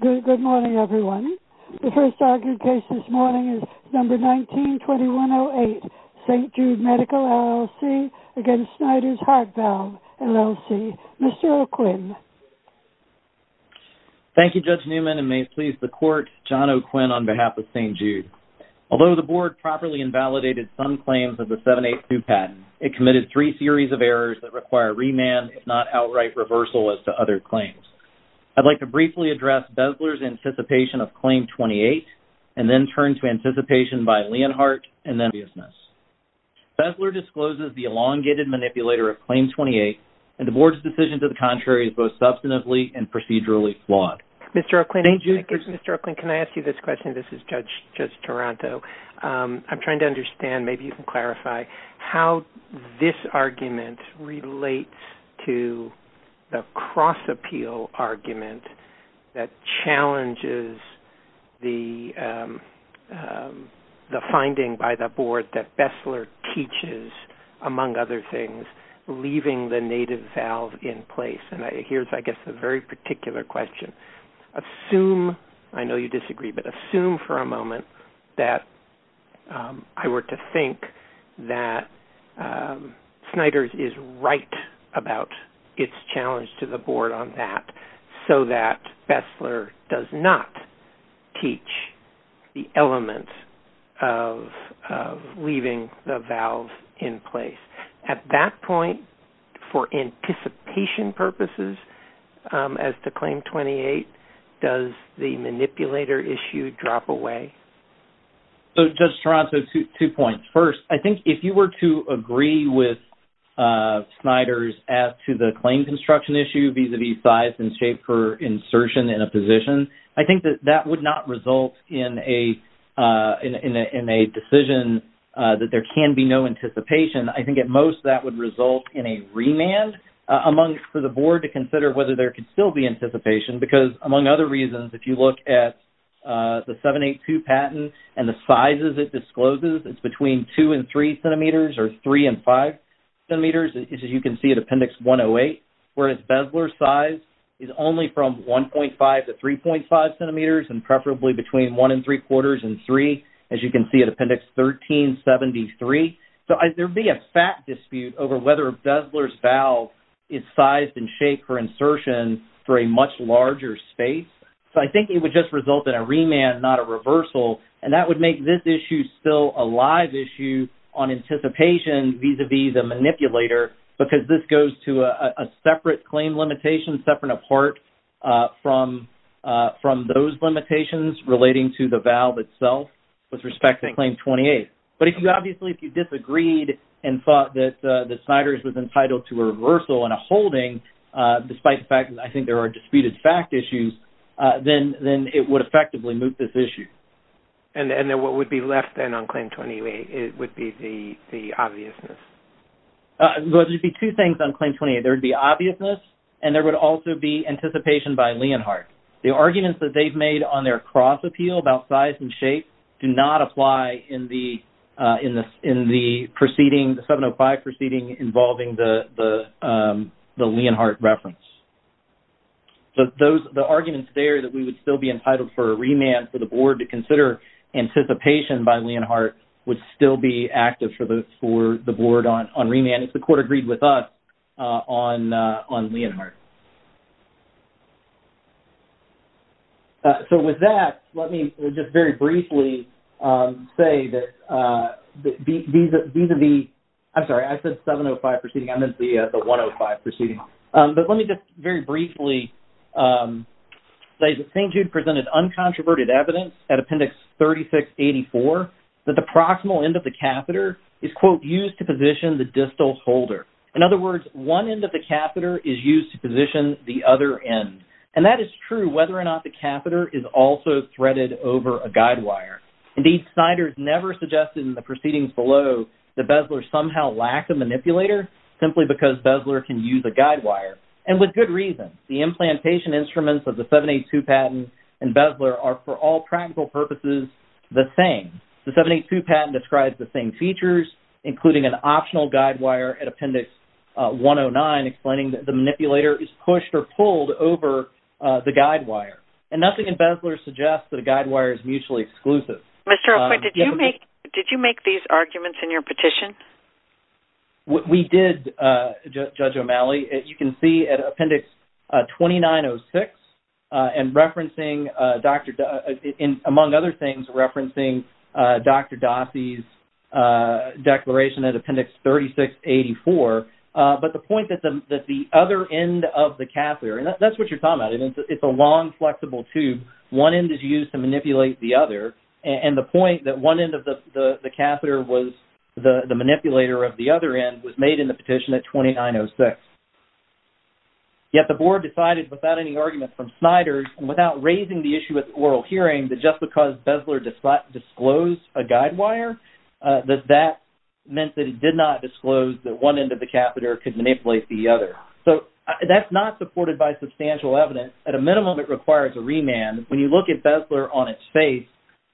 Good morning, everyone. The first argued case this morning is number 19-2108, St. Jude Medical, LLC v. Snyders Heart Valve, LLC. Mr. O'Quinn. Thank you, Judge Newman, and may it please the Court, John O'Quinn on behalf of St. Jude. Although the Board properly invalidated some claims of the 7-8-2 patent, it committed three series of errors that require remand, if not outright reversal as to other claims. I'd like to briefly address Bezler's anticipation of Claim 28 and then turn to anticipation by Leonhardt and then Bezler. Bezler discloses the elongated manipulator of Claim 28, and the Board's decision to the contrary is both substantively and procedurally flawed. Mr. O'Quinn. Thank you. Mr. O'Quinn, can I ask you this question? This is Judge Toronto. I'm trying to understand, maybe you can clarify, how this argument relates to the cross-appeal argument that challenges the finding by the Board that Bezler teaches, among other things, leaving the native valve in place. Here's, I guess, a very particular question. Assume, I know you disagree, but assume for a moment that I were to think that Snyder's is right about its challenge to the Board on that, so that Bezler does not teach the element of leaving the valve in place. At that point, for anticipation purposes as to Claim 28, does the manipulator issue drop away? So, Judge Toronto, two points. First, I think if you were to agree with Snyder's as to the claim construction issue, vis-à-vis size and shape for insertion in a position, I think that that would not result in a decision that there can be no anticipation. I think at most that would result in a remand for the Board to consider whether there could still be anticipation because, among other reasons, if you look at the 782 patent and the sizes it discloses, it's between 2 and 3 centimeters or 3 and 5 centimeters, as you can see at Appendix 108, whereas Bezler's size is only from 1.5 to 3.5 centimeters and preferably between 1 and 3 quarters and 3, as you can see at Appendix 1373. It's size and shape for insertion for a much larger space. So I think it would just result in a remand, not a reversal, and that would make this issue still a live issue on anticipation vis-à-vis the manipulator because this goes to a separate claim limitation, separate apart from those limitations relating to the valve itself with respect to Claim 28. But if you obviously disagreed and thought that Snyder's was entitled to a reversal and a holding, despite the fact that I think there are disputed fact issues, then it would effectively move this issue. And then what would be left then on Claim 28 would be the obviousness? Well, there would be two things on Claim 28. There would be obviousness and there would also be anticipation by Leonhardt. The arguments that they've made on their cross-appeal about size and shape do not apply in the proceeding, the 705 proceeding, involving the Leonhardt reference. The arguments there that we would still be entitled for a remand for the Board to consider anticipation by Leonhardt would still be active for the Board on remand if the Court agreed with us on Leonhardt. So with that, let me just very briefly say that vis-à-vis – I'm sorry, I said 705 proceeding, I meant the 105 proceeding. But let me just very briefly say that St. Jude presented uncontroverted evidence at Appendix 3684 that the proximal end of the catheter is, quote, used to position the distal holder. In other words, one end of the catheter is used to position the other end. And that is true whether or not the catheter is also threaded over a guide wire. Indeed, Snyder's never suggested in the proceedings below that Bezler somehow lacked a manipulator simply because Bezler can use a guide wire. And with good reason. The implantation instruments of the 782 patent and Bezler are, for all practical purposes, the same. The 782 patent describes the same features, including an optional guide wire at Appendix 109 explaining that the manipulator is pushed or pulled over the guide wire. And nothing in Bezler suggests that a guide wire is mutually exclusive. Mr. O'Quinn, did you make these arguments in your petition? We did, Judge O'Malley. You can see at Appendix 2906 and referencing, among other things, referencing Dr. Dossey's declaration at Appendix 3684. But the point that the other end of the catheter, and that's what you're talking about, it's a long, flexible tube. One end is used to manipulate the other. And the point that one end of the catheter was the manipulator of the other end was made in the petition at 2906. Yet the Board decided, without any argument from Snyder, and without raising the issue at the oral hearing, that just because Bezler disclosed a guide wire, that that meant that it did not disclose that one end of the catheter could manipulate the other. So that's not supported by substantial evidence. At a minimum, it requires a remand. When you look at Bezler on its face,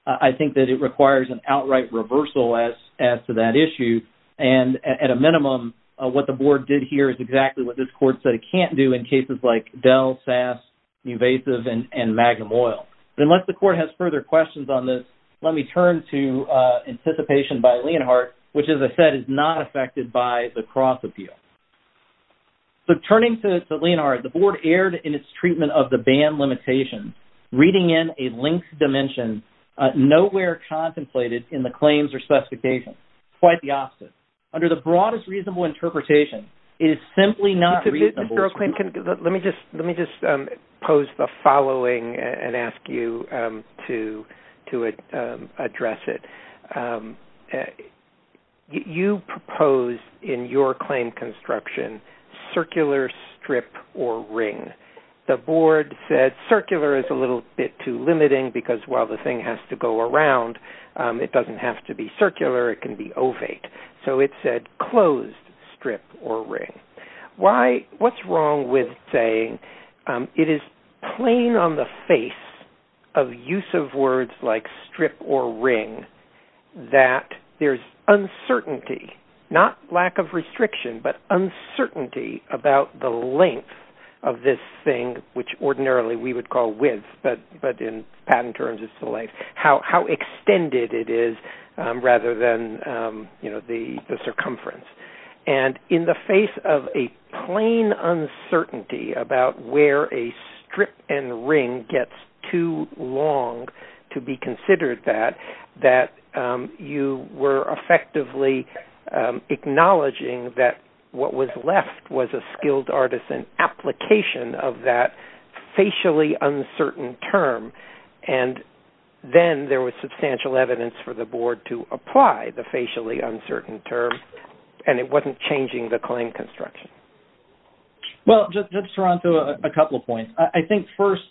I think that it requires an outright reversal as to that issue. And at a minimum, what the Board did here is exactly what this Court said it can't do in cases like Dell, SAS, Nuvasiv, and Magnum Oil. But unless the Court has further questions on this, let me turn to anticipation by Leonhardt, which, as I said, is not affected by the cross-appeal. So turning to Leonhardt, the Board erred in its treatment of the ban limitations, reading in a linked dimension, nowhere contemplated in the claims or specifications. Quite the opposite. Under the broadest reasonable interpretation, it is simply not reasonable. Let me just pose the following and ask you to address it. You proposed in your claim construction circular strip or ring. The Board said circular is a little bit too limiting because while the thing has to go around, it doesn't have to be circular. It can be ovate. So it said closed strip or ring. What's wrong with saying it is plain on the face of use of words like strip or ring that there's uncertainty, not lack of restriction, but uncertainty about the length of this thing, which ordinarily we would call width, but in patent terms it's the length, how extended it is rather than the circumference. And in the face of a plain uncertainty about where a strip and ring gets too long to be considered that, that you were effectively acknowledging that what was left was a skilled artisan application of that facially uncertain term. And then there was substantial evidence for the Board to apply the facially uncertain term and it wasn't changing the claim construction. Well, just to run through a couple of points. I think first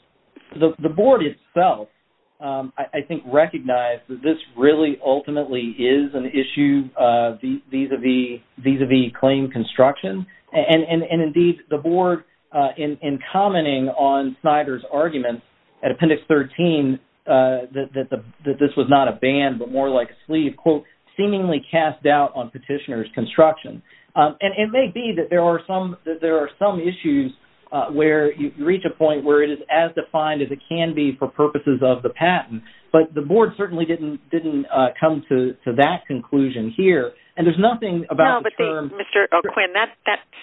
the Board itself, I think, recognized that this really ultimately is an issue vis-à-vis claim construction. And indeed the Board in commenting on Snyder's argument at Appendix 13 seemingly cast doubt on petitioner's construction. And it may be that there are some issues where you reach a point where it is as defined as it can be for purposes of the patent, but the Board certainly didn't come to that conclusion here. And there's nothing about the term... No, but Mr. O'Quinn, that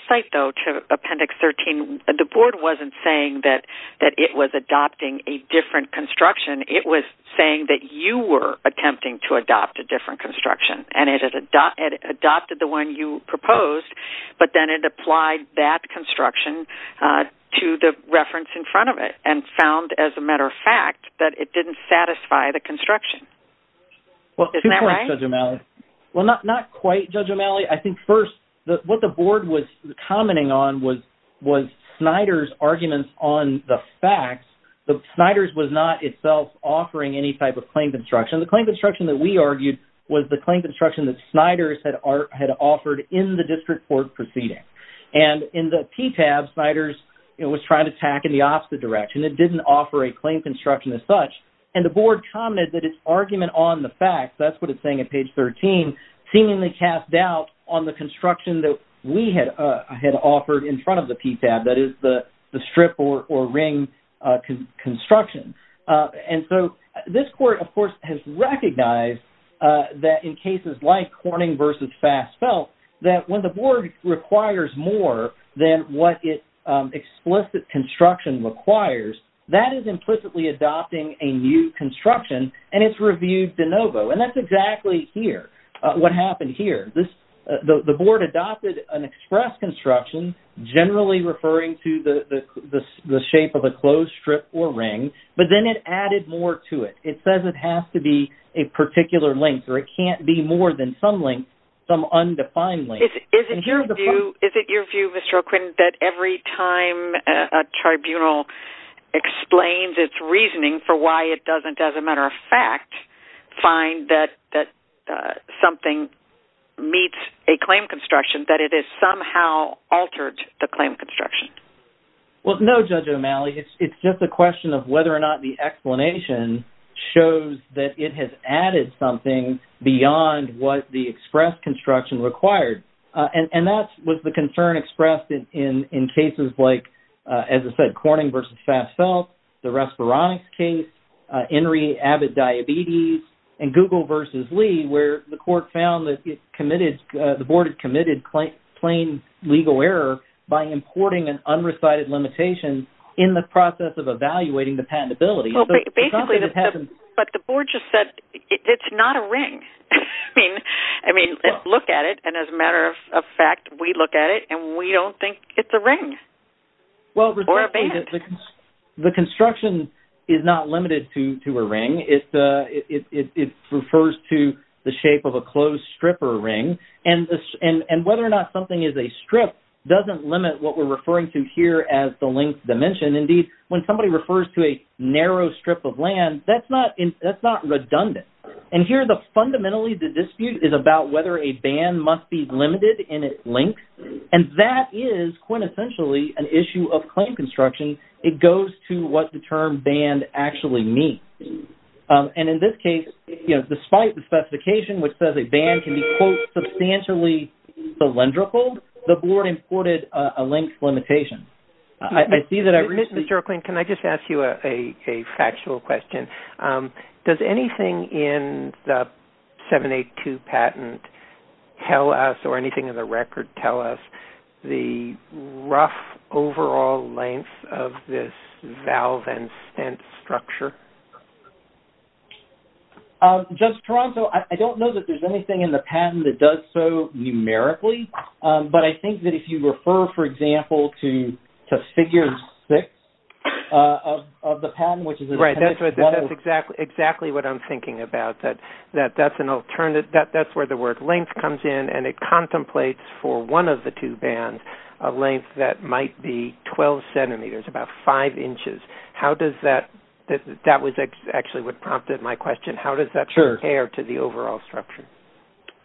cite though to Appendix 13, the Board wasn't saying that it was adopting a different construction. It was saying that you were attempting to adopt a different construction and it adopted the one you proposed, but then it applied that construction to the reference in front of it and found, as a matter of fact, that it didn't satisfy the construction. Isn't that right? Well, two points, Judge O'Malley. Well, not quite, Judge O'Malley. I think first what the Board was commenting on was Snyder's arguments on the facts. Snyder's was not itself offering any type of claim construction. The claim construction that we argued was the claim construction that Snyder's had offered in the district court proceeding. And in the PTAB, Snyder's was trying to tack in the opposite direction. It didn't offer a claim construction as such. And the Board commented that its argument on the facts, that's what it's saying at page 13, seemingly cast doubt on the construction that we had offered in front of the PTAB, that is, the strip or ring construction. And so this Court, of course, has recognized that in cases like Corning v. Fast Felt, that when the Board requires more than what its explicit construction requires, that is implicitly adopting a new construction, and it's reviewed de novo. And that's exactly here, what happened here. The Board adopted an express construction, generally referring to the shape of a closed strip or ring, but then it added more to it. It says it has to be a particular length, or it can't be more than some length, some undefined length. Is it your view, Mr. O'Quinn, that every time a tribunal explains its reasoning for why it doesn't, as a matter of fact, find that something meets a claim construction, that it has somehow altered the claim construction? Well, no, Judge O'Malley. It's just a question of whether or not the explanation shows that it has added something beyond what the express construction required. And that was the concern expressed in cases like, as I said, INRI Abbott diabetes, and Google versus Lee, where the court found that the Board had committed plain legal error by importing an unrecited limitation in the process of evaluating the patentability. Well, basically, but the Board just said it's not a ring. I mean, look at it, and as a matter of fact, we look at it, and we don't think it's a ring or a band. The construction is not limited to a ring. It refers to the shape of a closed strip or a ring, and whether or not something is a strip doesn't limit what we're referring to here as the length dimension. Indeed, when somebody refers to a narrow strip of land, that's not redundant. And here, fundamentally, the dispute is about whether a band must be limited in its length, and that is, quintessentially, an issue of claim construction. It goes to what the term band actually means. And in this case, you know, despite the specification, which says a band can be, quote, substantially cylindrical, the Board imported a length limitation. Mr. O'Quinn, can I just ask you a factual question? Does anything in the 782 patent tell us, or anything in the record tell us, the rough overall length of this valve and stent structure? Judge Toronto, I don't know that there's anything in the patent that does so numerically, but I think that if you refer, for example, to figure six of the patent, Right, that's exactly what I'm thinking about. That's where the word length comes in, and it contemplates for one of the two bands a length that might be 12 centimeters, about five inches. That actually prompted my question. How does that compare to the overall structure?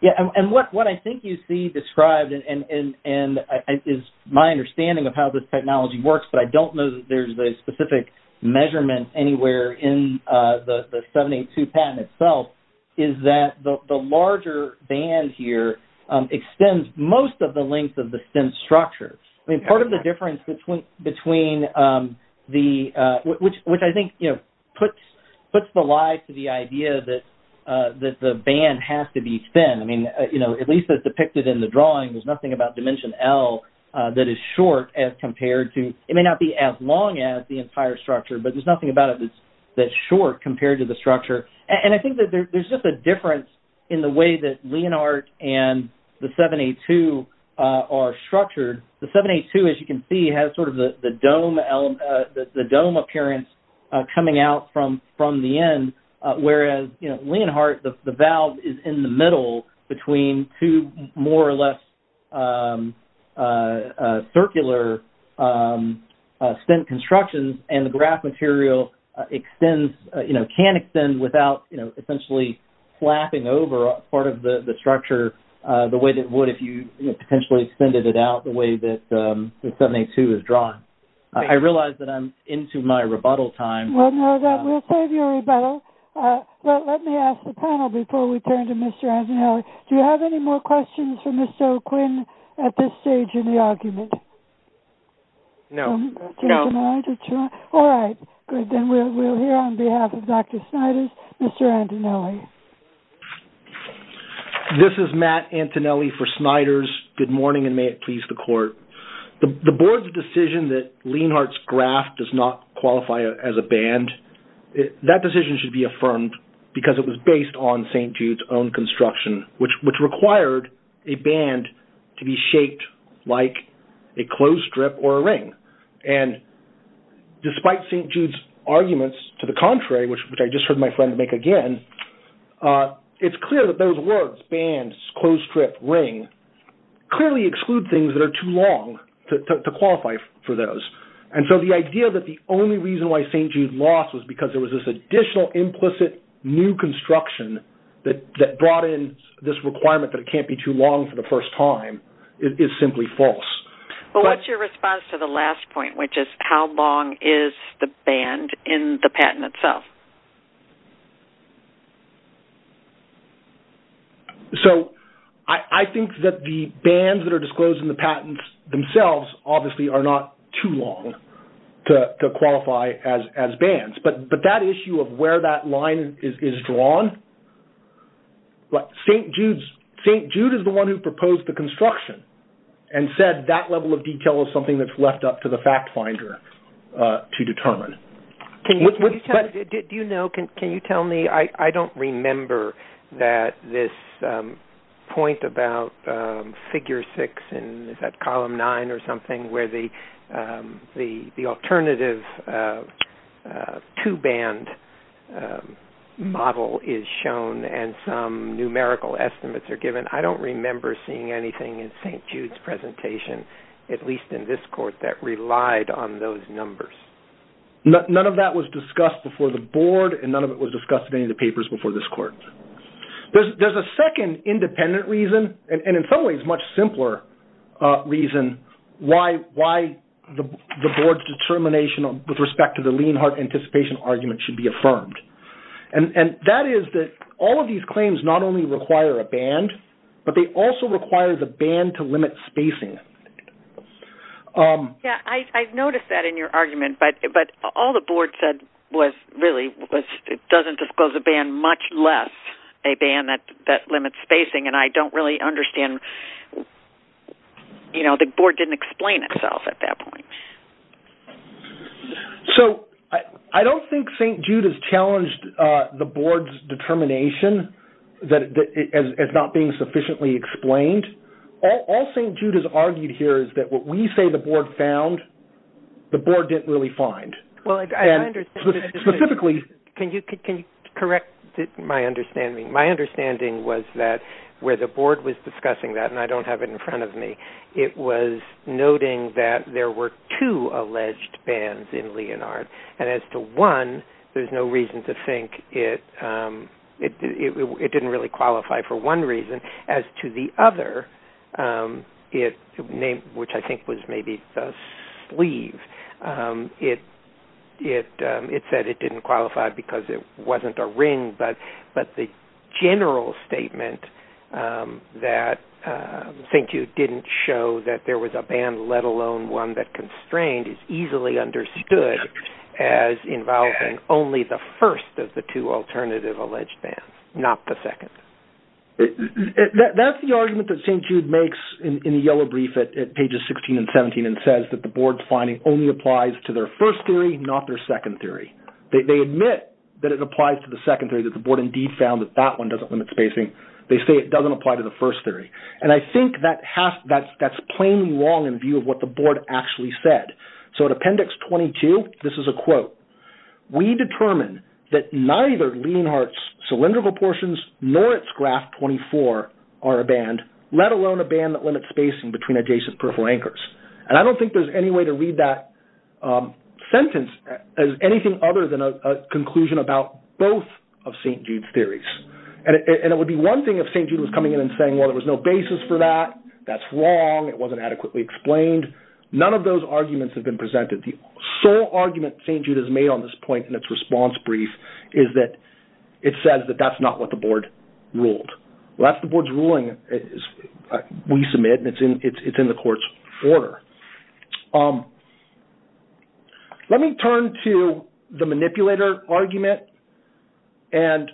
Yeah, and what I think you see described is my understanding of how this technology works, but I don't know that there's a specific measurement anywhere in the 782 patent itself, is that the larger band here extends most of the length of the stent structure. I mean, part of the difference between the, which I think, you know, puts the lie to the idea that the band has to be thin. I mean, you know, at least as depicted in the drawing, there's nothing about dimension L that is short as compared to, it may not be as long as the entire structure, but there's nothing about it that's short compared to the structure. And I think that there's just a difference in the way that Leonhardt and the 782 are structured. The 782, as you can see, has sort of the dome appearance coming out from the end, whereas, you know, Leonhardt, the valve is in the middle between two more or less circular stent constructions, and the graph material extends, you know, can extend without, you know, essentially flapping over part of the structure the way that it would if you potentially extended it out the way that the 782 is drawn. I realize that I'm into my rebuttal time. Well, no, we'll save your rebuttal. Let me ask the panel before we turn to Mr. Antonelli. Do you have any more questions for Mr. O'Quinn at this stage in the argument? No. All right. Good. Then we'll hear on behalf of Dr. Sniders, Mr. Antonelli. This is Matt Antonelli for Sniders. Good morning, and may it please the court. The board's decision that Leonhardt's graph does not qualify as a band, that decision should be affirmed because it was based on St. Jude's own construction, which required a band to be shaped like a clothes strip or a ring. And despite St. Jude's arguments to the contrary, which I just heard my friend make again, it's clear that those words, bands, clothes strip, ring, clearly exclude things that are too long to qualify for those. And so the idea that the only reason why St. Jude lost was because there was this additional implicit new construction that brought in this requirement that it can't be too long for the first time is simply false. Well, what's your response to the last point, which is how long is the band in the patent itself? So I think that the bands that are disclosed in the patents themselves obviously are not too long to qualify as bands. But that issue of where that line is drawn, St. Jude is the one who proposed the construction and said that level of detail is something that's left up to the fact finder to determine. Can you tell me, I don't remember that this point about figure six, column nine or something where the alternative two band model is shown and some numerical estimates are given. I don't remember seeing anything in St. Jude's presentation, at least in this court, that relied on those numbers. None of that was discussed before the board and none of it was discussed in any of the papers before this court. There's a second independent reason, and in some ways much simpler reason, why the board's determination with respect to the Lienhardt anticipation argument should be affirmed. And that is that all of these claims not only require a band, but they also require the band to limit spacing. Yeah, I've noticed that in your argument. But all the board said was really it doesn't disclose a band much less a band that limits spacing. And I don't really understand, you know, the board didn't explain itself at that point. So I don't think St. Jude has challenged the board's determination as not being sufficiently explained. All St. Jude has argued here is that what we say the board found, the board didn't really find. Can you correct my understanding? My understanding was that where the board was discussing that, and I don't have it in front of me, it was noting that there were two alleged bands in Lienhardt. And as to one, there's no reason to think it didn't really qualify for one reason. And as to the other, which I think was maybe the sleeve, it said it didn't qualify because it wasn't a ring. But the general statement that St. Jude didn't show that there was a band, let alone one that constrained is easily understood as involving only the first of the two alternative alleged bands, not the second. That's the argument that St. Jude makes in the yellow brief at pages 16 and 17 and says that the board's finding only applies to their first theory, not their second theory. They admit that it applies to the second theory, that the board indeed found that that one doesn't limit spacing. They say it doesn't apply to the first theory. And I think that's plainly wrong in view of what the board actually said. So in appendix 22, this is a quote, we determine that neither Lienhardt's cylindrical portions nor its graph 24 are a band, let alone a band that limits spacing between adjacent peripheral anchors. And I don't think there's any way to read that sentence as anything other than a conclusion about both of St. Jude's theories. And it would be one thing if St. Jude was coming in and saying, well, there was no basis for that, that's wrong, it wasn't adequately explained. None of those arguments have been presented. The sole argument St. Jude has made on this point in its response brief is that it says that that's not what the board ruled. Well, that's the board's ruling, we submit, and it's in the court's order. Let me turn to the manipulator argument. And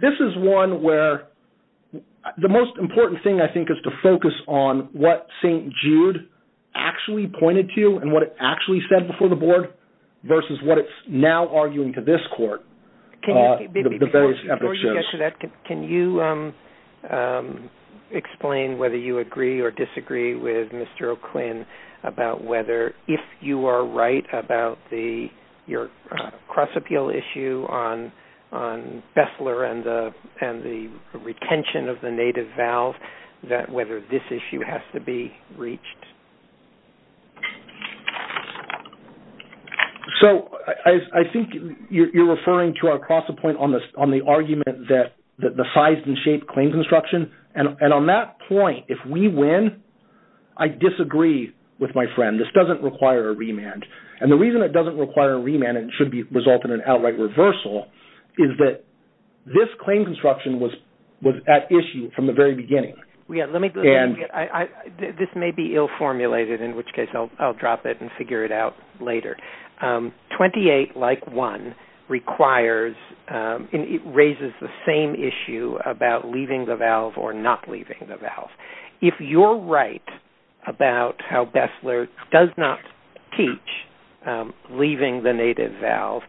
this is one where the most important thing I think is to focus on what St. Jude actually pointed to and what it actually said before the board versus what it's now arguing to this court. Before you get to that, can you explain whether you agree or disagree with Mr. O'Quinn about whether, if you are right about your cross-appeal issue on Bessler and the retention of the native valve, that whether this issue has to be reached? So I think you're referring to our cross-appointment on the argument that the size and shape claim construction. And on that point, if we win, I disagree with my friend. This doesn't require a remand. And the reason it doesn't require a remand and should result in an outright reversal is that this claim construction was at issue from the very beginning. This may be ill-formulated, in which case I'll drop it and figure it out later. 28, like 1, requires and it raises the same issue about leaving the valve or not leaving the valve. If you're right about how Bessler does not teach leaving the native valve,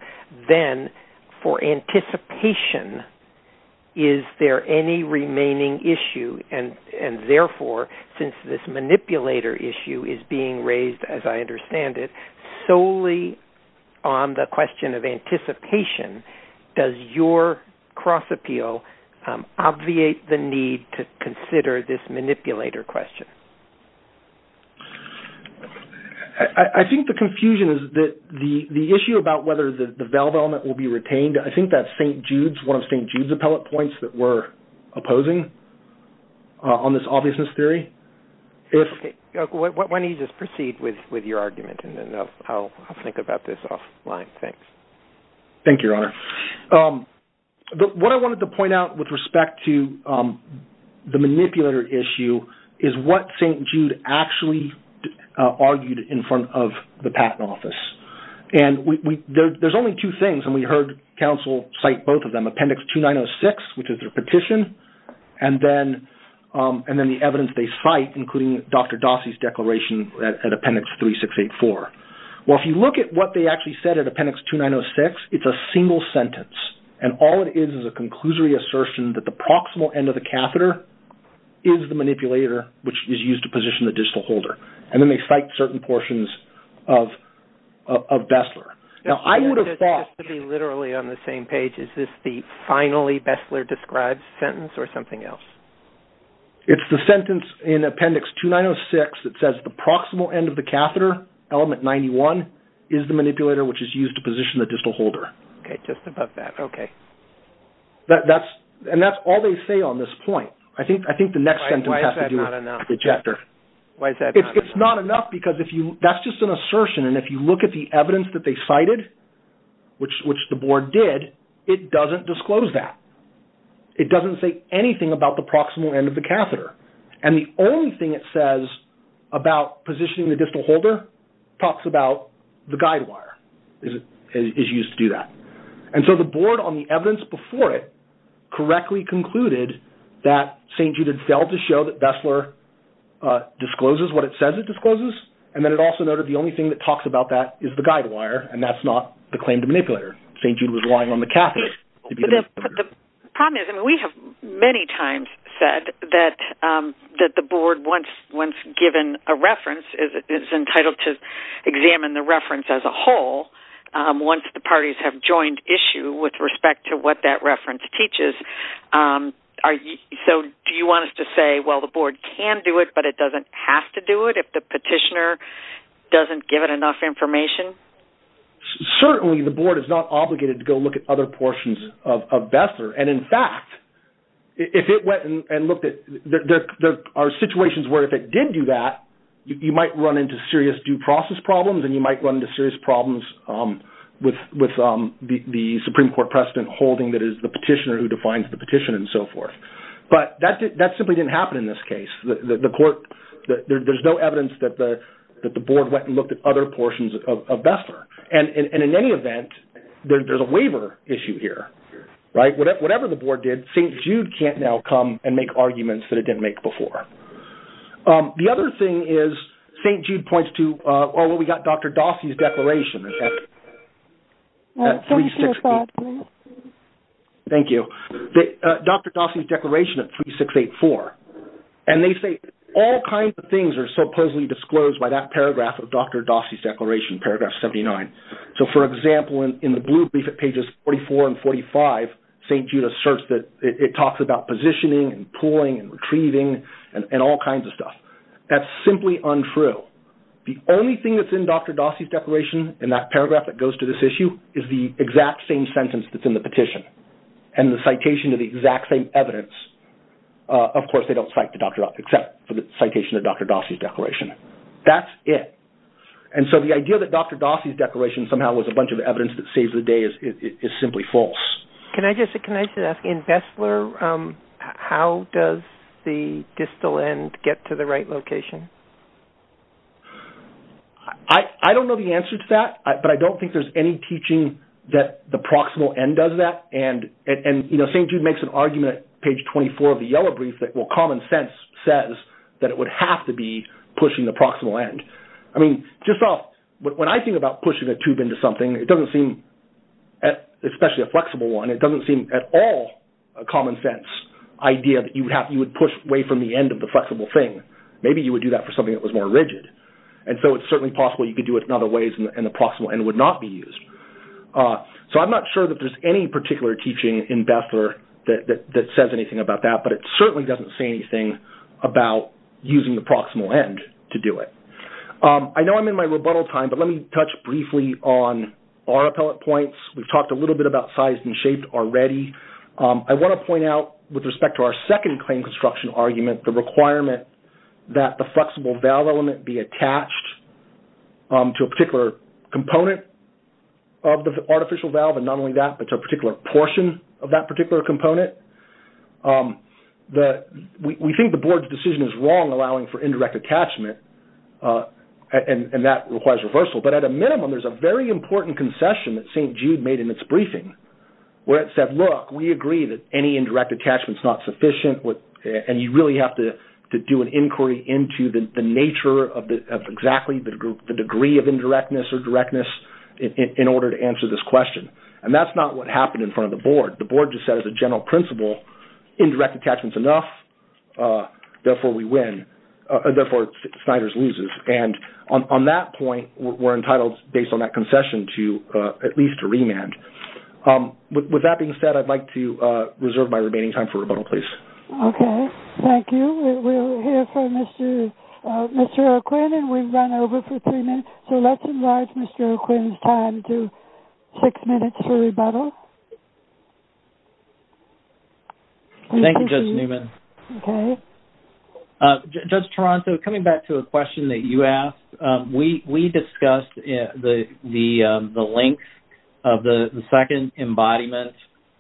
then for anticipation, is there any remaining issue? And therefore, since this manipulator issue is being raised, as I understand it, solely on the question of anticipation, does your cross-appeal obviate the need to consider this manipulator question? I think the confusion is that the issue about whether the valve element will be retained, I think that's one of St. Jude's appellate points that we're opposing on this obviousness theory. Why don't you just proceed with your argument, and then I'll think about this offline. Thanks. Thank you, Your Honor. What I wanted to point out with respect to the manipulator issue is what St. Jude actually argued in front of the Patent Office. And there's only two things, and we heard counsel cite both of them, Appendix 2906, which is their petition, and then the evidence they cite, including Dr. Dossey's declaration at Appendix 3684. Well, if you look at what they actually said at Appendix 2906, it's a single sentence, and all it is is a conclusory assertion that the proximal end of the catheter is the manipulator, which is used to position the digital holder. And then they cite certain portions of Bessler. Now, I would have thought— Just to be literally on the same page, is this the finally Bessler-described sentence, or something else? It's the sentence in Appendix 2906 that says the proximal end of the catheter, element 91, is the manipulator, which is used to position the digital holder. Okay, just above that. Okay. And that's all they say on this point. I think the next sentence has to do with the ejector. Why is that not enough? It's not enough because that's just an assertion, and if you look at the evidence that they cited, which the board did, it doesn't disclose that. It doesn't say anything about the proximal end of the catheter, and the only thing it says about positioning the digital holder talks about the guide wire, is used to do that. And so the board, on the evidence before it, correctly concluded that St. Jude had failed to show that Bessler discloses what it says it discloses, and then it also noted the only thing that talks about that is the guide wire, and that's not the claim to manipulator. St. Jude was relying on the catheter to be the manipulator. The problem is, and we have many times said that the board, once given a reference, is entitled to examine the reference as a whole once the parties have joined issue with respect to what that reference teaches. So do you want us to say, well, the board can do it, but it doesn't have to do it, if the petitioner doesn't give it enough information? Certainly the board is not obligated to go look at other portions of Bessler, and in fact, if it went and looked at, there are situations where if it did do that, you might run into serious due process problems, and you might run into serious problems with the Supreme Court precedent holding that it is the petitioner who defines the petition and so forth. But that simply didn't happen in this case. There's no evidence that the board went and looked at other portions of Bessler, and in any event, there's a waiver issue here. Whatever the board did, St. Jude can't now come and make arguments that it didn't make before. The other thing is, St. Jude points to, oh, well, we got Dr. Dossey's declaration. Thank you. Dr. Dossey's declaration of 3684, and they say all kinds of things are supposedly disclosed by that paragraph of Dr. Dossey's declaration, paragraph 79. So, for example, in the blue brief at pages 44 and 45, St. Jude asserts that it talks about positioning and pulling and retrieving and all kinds of stuff. That's simply untrue. The only thing that's in Dr. Dossey's declaration in that paragraph that goes to this issue is the exact same sentence that's in the petition. And the citation of the exact same evidence, of course, they don't cite except for the citation of Dr. Dossey's declaration. That's it. And so the idea that Dr. Dossey's declaration somehow was a bunch of evidence that saves the day is simply false. Can I just ask, in Bessler, how does the distal end get to the right location? I don't know the answer to that, but I don't think there's any teaching that the proximal end does that. And, you know, St. Jude makes an argument at page 24 of the yellow brief that, well, common sense says that it would have to be pushing the proximal end. I mean, when I think about pushing a tube into something, it doesn't seem, especially a flexible one, it doesn't seem at all a common sense idea that you would push away from the end of the flexible thing. Maybe you would do that for something that was more rigid. And so it's certainly possible you could do it in other ways and the proximal end would not be used. So I'm not sure that there's any particular teaching in Bessler that says anything about that, but it certainly doesn't say anything about using the proximal end to do it. I know I'm in my rebuttal time, but let me touch briefly on our appellate points. We've talked a little bit about size and shape already. I want to point out, with respect to our second claim construction argument, the requirement that the flexible valve element be attached to a particular component of the artificial valve, and not only that, but to a particular portion of that particular component, we think the board's decision is wrong allowing for indirect attachment, and that requires reversal. But at a minimum, there's a very important concession that St. Jude made in its briefing where it said, look, we agree that any indirect attachment is not sufficient and you really have to do an inquiry into the nature of exactly the degree of indirectness or directness in order to answer this question. And that's not what happened in front of the board. The board just said as a general principle, indirect attachment is enough, therefore we win, therefore Sniders loses. And on that point, we're entitled, based on that concession, to at least a remand. With that being said, I'd like to reserve my remaining time for rebuttal, please. Okay. Thank you. We'll hear from Mr. O'Quinn, and we've run over for three minutes, so let's enlarge Mr. O'Quinn's time to six minutes for rebuttal. Thank you, Judge Newman. Okay. Judge Toronto, coming back to a question that you asked, we discussed the length of the second embodiment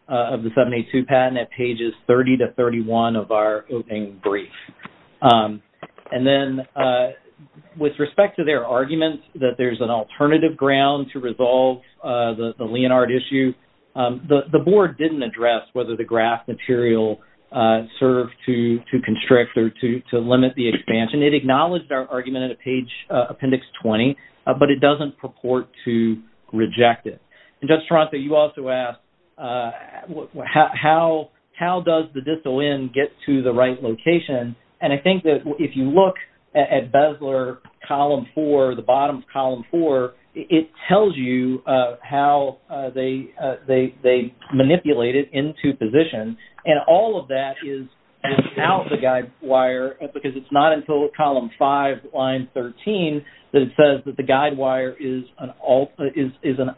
of the 782 patent at pages 30-31 of our opening brief. And then with respect to their argument that there's an alternative ground to resolve the Leonhard issue, the board didn't address whether the graph material served to constrict or to limit the expansion. It acknowledged our argument at page appendix 20, but it doesn't purport to reject it. And Judge Toronto, you also asked, how does the distal end get to the right location? And I think that if you look at Bezler column four, the bottom of column four, it tells you how they manipulate it into position, and all of that is without the guide wire, because it's not until column five, line 13, that it says that the guide wire is an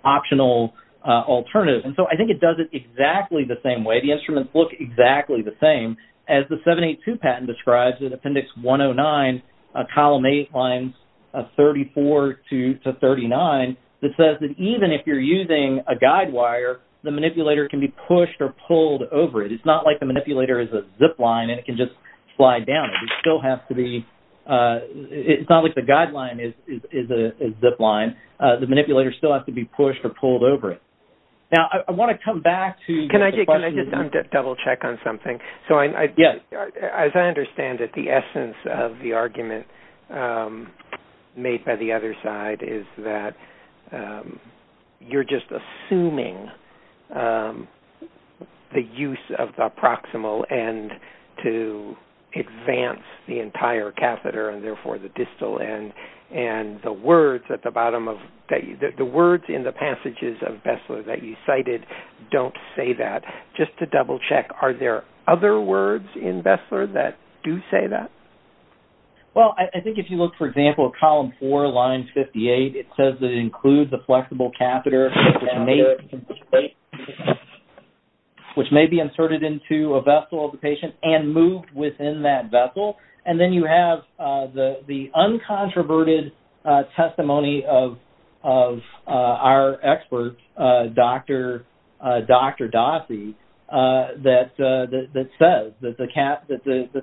optional alternative. And so I think it does it exactly the same way. The instruments look exactly the same. As the 782 patent describes in appendix 109, column eight, lines 34-39, it says that even if you're using a guide wire, the manipulator can be pushed or pulled over it. It's not like the manipulator is a zipline and it can just fly down. It still has to be – it's not like the guideline is a zipline. The manipulator still has to be pushed or pulled over it. Now, I want to come back to – Can I just double check on something? Yes. As I understand it, the essence of the argument made by the other side is that you're just assuming the use of the proximal end to advance the entire catheter and, therefore, the distal end, and the words in the passages of Bessler that you cited don't say that. Just to double check, are there other words in Bessler that do say that? Well, I think if you look, for example, at column four, lines 58, it says that it includes the flexible catheter, which may be inserted into a vessel of the patient and moved within that vessel. And then you have the uncontroverted testimony of our expert, Dr. Dossi, that says that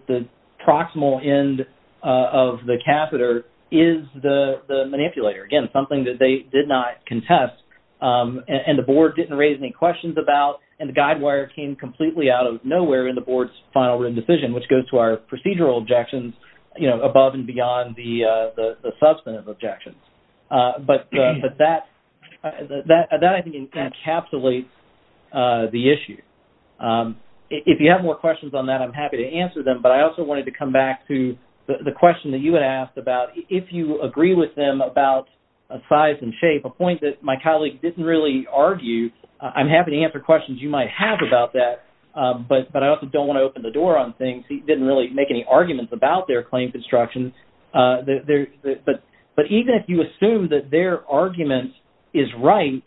the proximal end of the catheter is the manipulator. Again, something that they did not contest, and the board didn't raise any questions about, and the guidewire came completely out of nowhere in the board's final written decision, which goes to our procedural objections above and beyond the substantive objections. But that, I think, encapsulates the issue. If you have more questions on that, I'm happy to answer them, but I also wanted to come back to the question that you had asked about if you agree with them about size and shape, a point that my colleague didn't really argue. I'm happy to answer questions you might have about that, but I also don't want to open the door on things. He didn't really make any arguments about their claim construction. But even if you assume that their argument is right,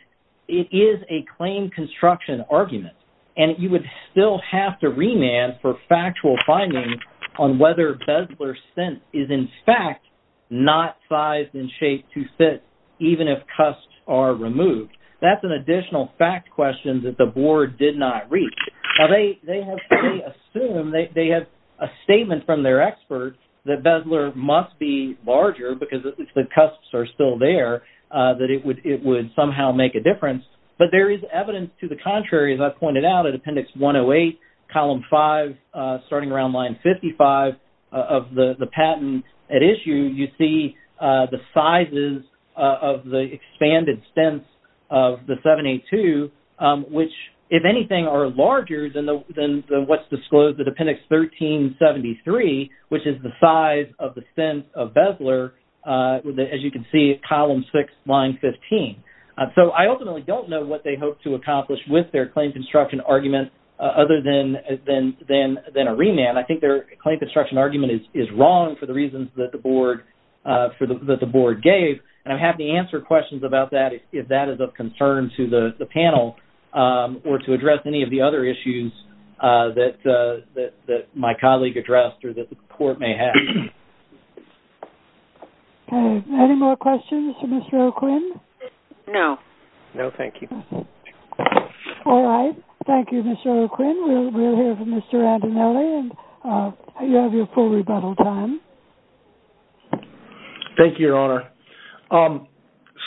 it is a claim construction argument, and you would still have to remand for factual findings on whether Bezler's stent is, in fact, not sized and shaped to fit, even if cusps are removed. That's an additional fact question that the board did not reach. Now, they assume, they have a statement from their expert that Bezler must be larger, because the cusps are still there, that it would somehow make a difference. But there is evidence to the contrary, as I pointed out, at Appendix 108, Column 5, starting around Line 55 of the patent at issue, you see the sizes of the expanded stents of the 782, which, if anything, are larger than what's disclosed in Appendix 1373, which is the size of the stent of Bezler, as you can see at Column 6, Line 15. So I ultimately don't know what they hope to accomplish with their claim construction argument other than a remand. I think their claim construction argument is wrong for the reasons that the board gave, and I'm happy to answer questions about that if that is of concern to the panel or to address any of the other issues that my colleague addressed or that the court may have. Okay. Any more questions for Mr. O'Quinn? No. No, thank you. All right. Thank you, Mr. O'Quinn. We'll hear from Mr. Andinelli, and you have your full rebuttal time. Thank you, Your Honor.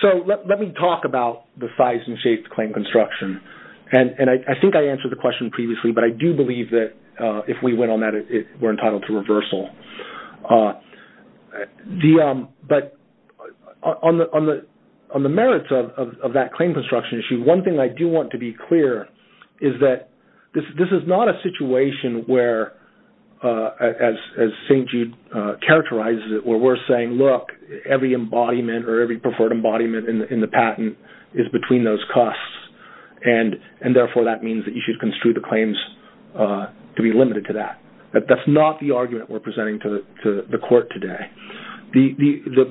So let me talk about the size and shape of the claim construction. And I think I answered the question previously, but I do believe that if we went on that, we're entitled to reversal. But on the merits of that claim construction issue, one thing I do want to be clear is that this is not a situation where, as St. Jude characterized it, where we're saying, look, every embodiment or every preferred embodiment in the patent is between those custs, and therefore that means that you should construe the claims to be limited to that. That's not the argument we're presenting to the court today.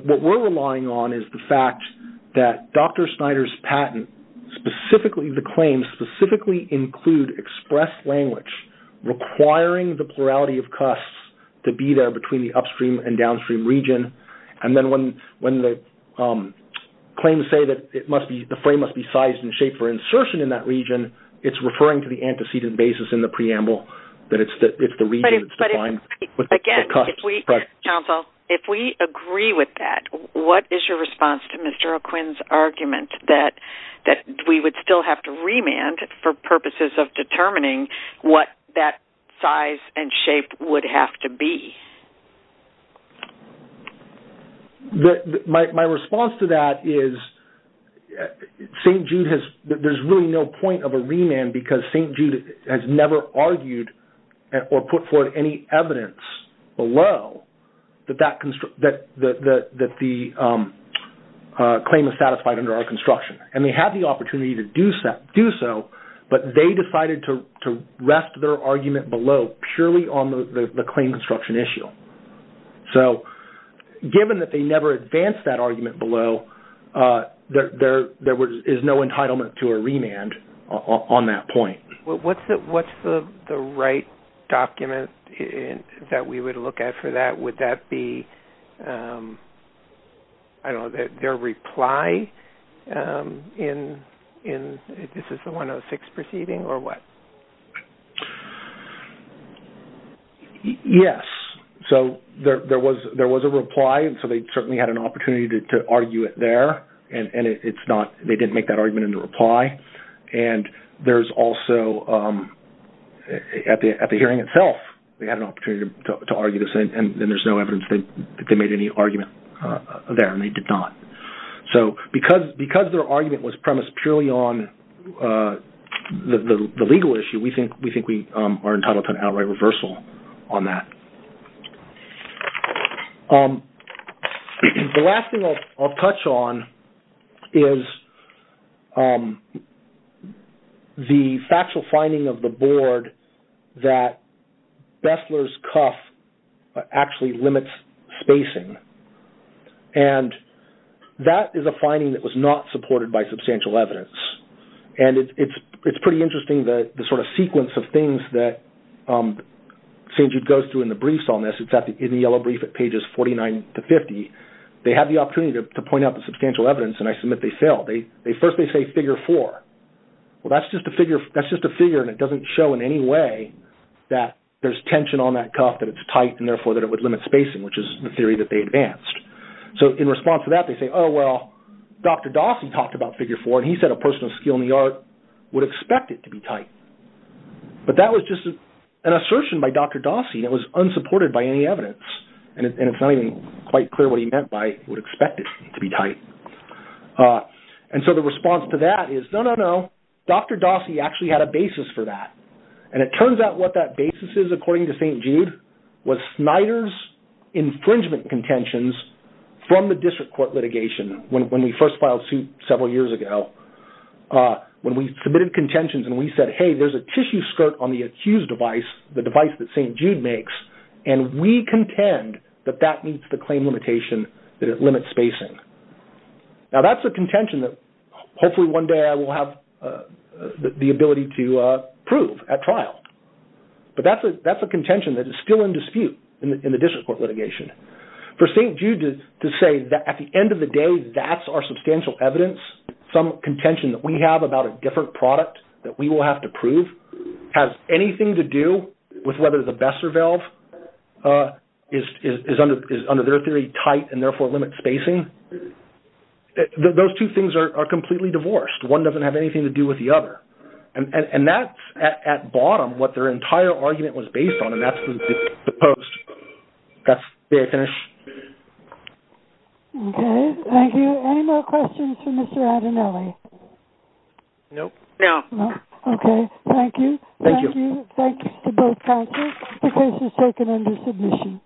What we're relying on is the fact that Dr. Snyder's patent, the claims specifically include expressed language requiring the plurality of custs to be there between the upstream and downstream region. And then when the claims say that the frame must be sized and shaped for insertion in that region, it's referring to the antecedent basis in the preamble, that it's the region that's defined. Again, counsel, if we agree with that, what is your response to Mr. O'Quinn's argument that we would still have to remand for purposes of determining what that size and shape would have to be? My response to that is that there's really no point of a remand because St. Jude has never argued or put forward any evidence below that the claim is satisfied under our construction. And they have the opportunity to do so, but they decided to rest their argument below purely on the claim construction issue. So given that they never advanced that argument below, there is no entitlement to a remand on that point. What's the right document that we would look at for that? Would that be their reply in this is the 106 proceeding or what? Yes. So there was a reply, so they certainly had an opportunity to argue it there, and they didn't make that argument in the reply. And there's also, at the hearing itself, they had an opportunity to argue this, and there's no evidence that they made any argument there, and they did not. So because their argument was premised purely on the legal issue, we think we are entitled to an outright reversal on that. The last thing I'll touch on is the factual finding of the board that Bessler's cuff actually limits spacing, and that is a finding that was not supported by substantial evidence. And it's pretty interesting the sort of sequence of things that St. Jude goes through in the briefs on this. It's in the yellow brief at pages 49 to 50. They have the opportunity to point out the substantial evidence, and I submit they failed. First they say figure four. Well, that's just a figure, and it doesn't show in any way that there's tension on that cuff, that it's tight, and therefore that it would limit spacing, which is the theory that they advanced. So in response to that, they say, oh, well, Dr. Dawson talked about figure four, and he said a person of skill in the art would expect it to be tight. But that was just an assertion by Dr. Dawson. It was unsupported by any evidence, and it's not even quite clear what he meant by would expect it to be tight. And so the response to that is, no, no, no, Dr. Dawson actually had a basis for that, and it turns out what that basis is, according to St. Jude, was Snyder's infringement contentions from the district court litigation when we first filed suit several years ago. When we submitted contentions and we said, hey, there's a tissue skirt on the accused device, the device that St. Jude makes, and we contend that that meets the claim limitation that it limits spacing. Now, that's a contention that hopefully one day I will have the ability to prove at trial. But that's a contention that is still in dispute in the district court litigation. For St. Jude to say that at the end of the day that's our substantial evidence, some contention that we have about a different product that we will have to prove, has anything to do with whether the Besser valve is under their theory tight and therefore limits spacing, those two things are completely divorced. One doesn't have anything to do with the other. And that's, at bottom, what their entire argument was based on, and that's the post. That's where I finish. Okay. Thank you. Any more questions for Mr. Adanelli? No. No. Okay. Thank you. Thank you. Thank you to both counsels. The case is taken under submission.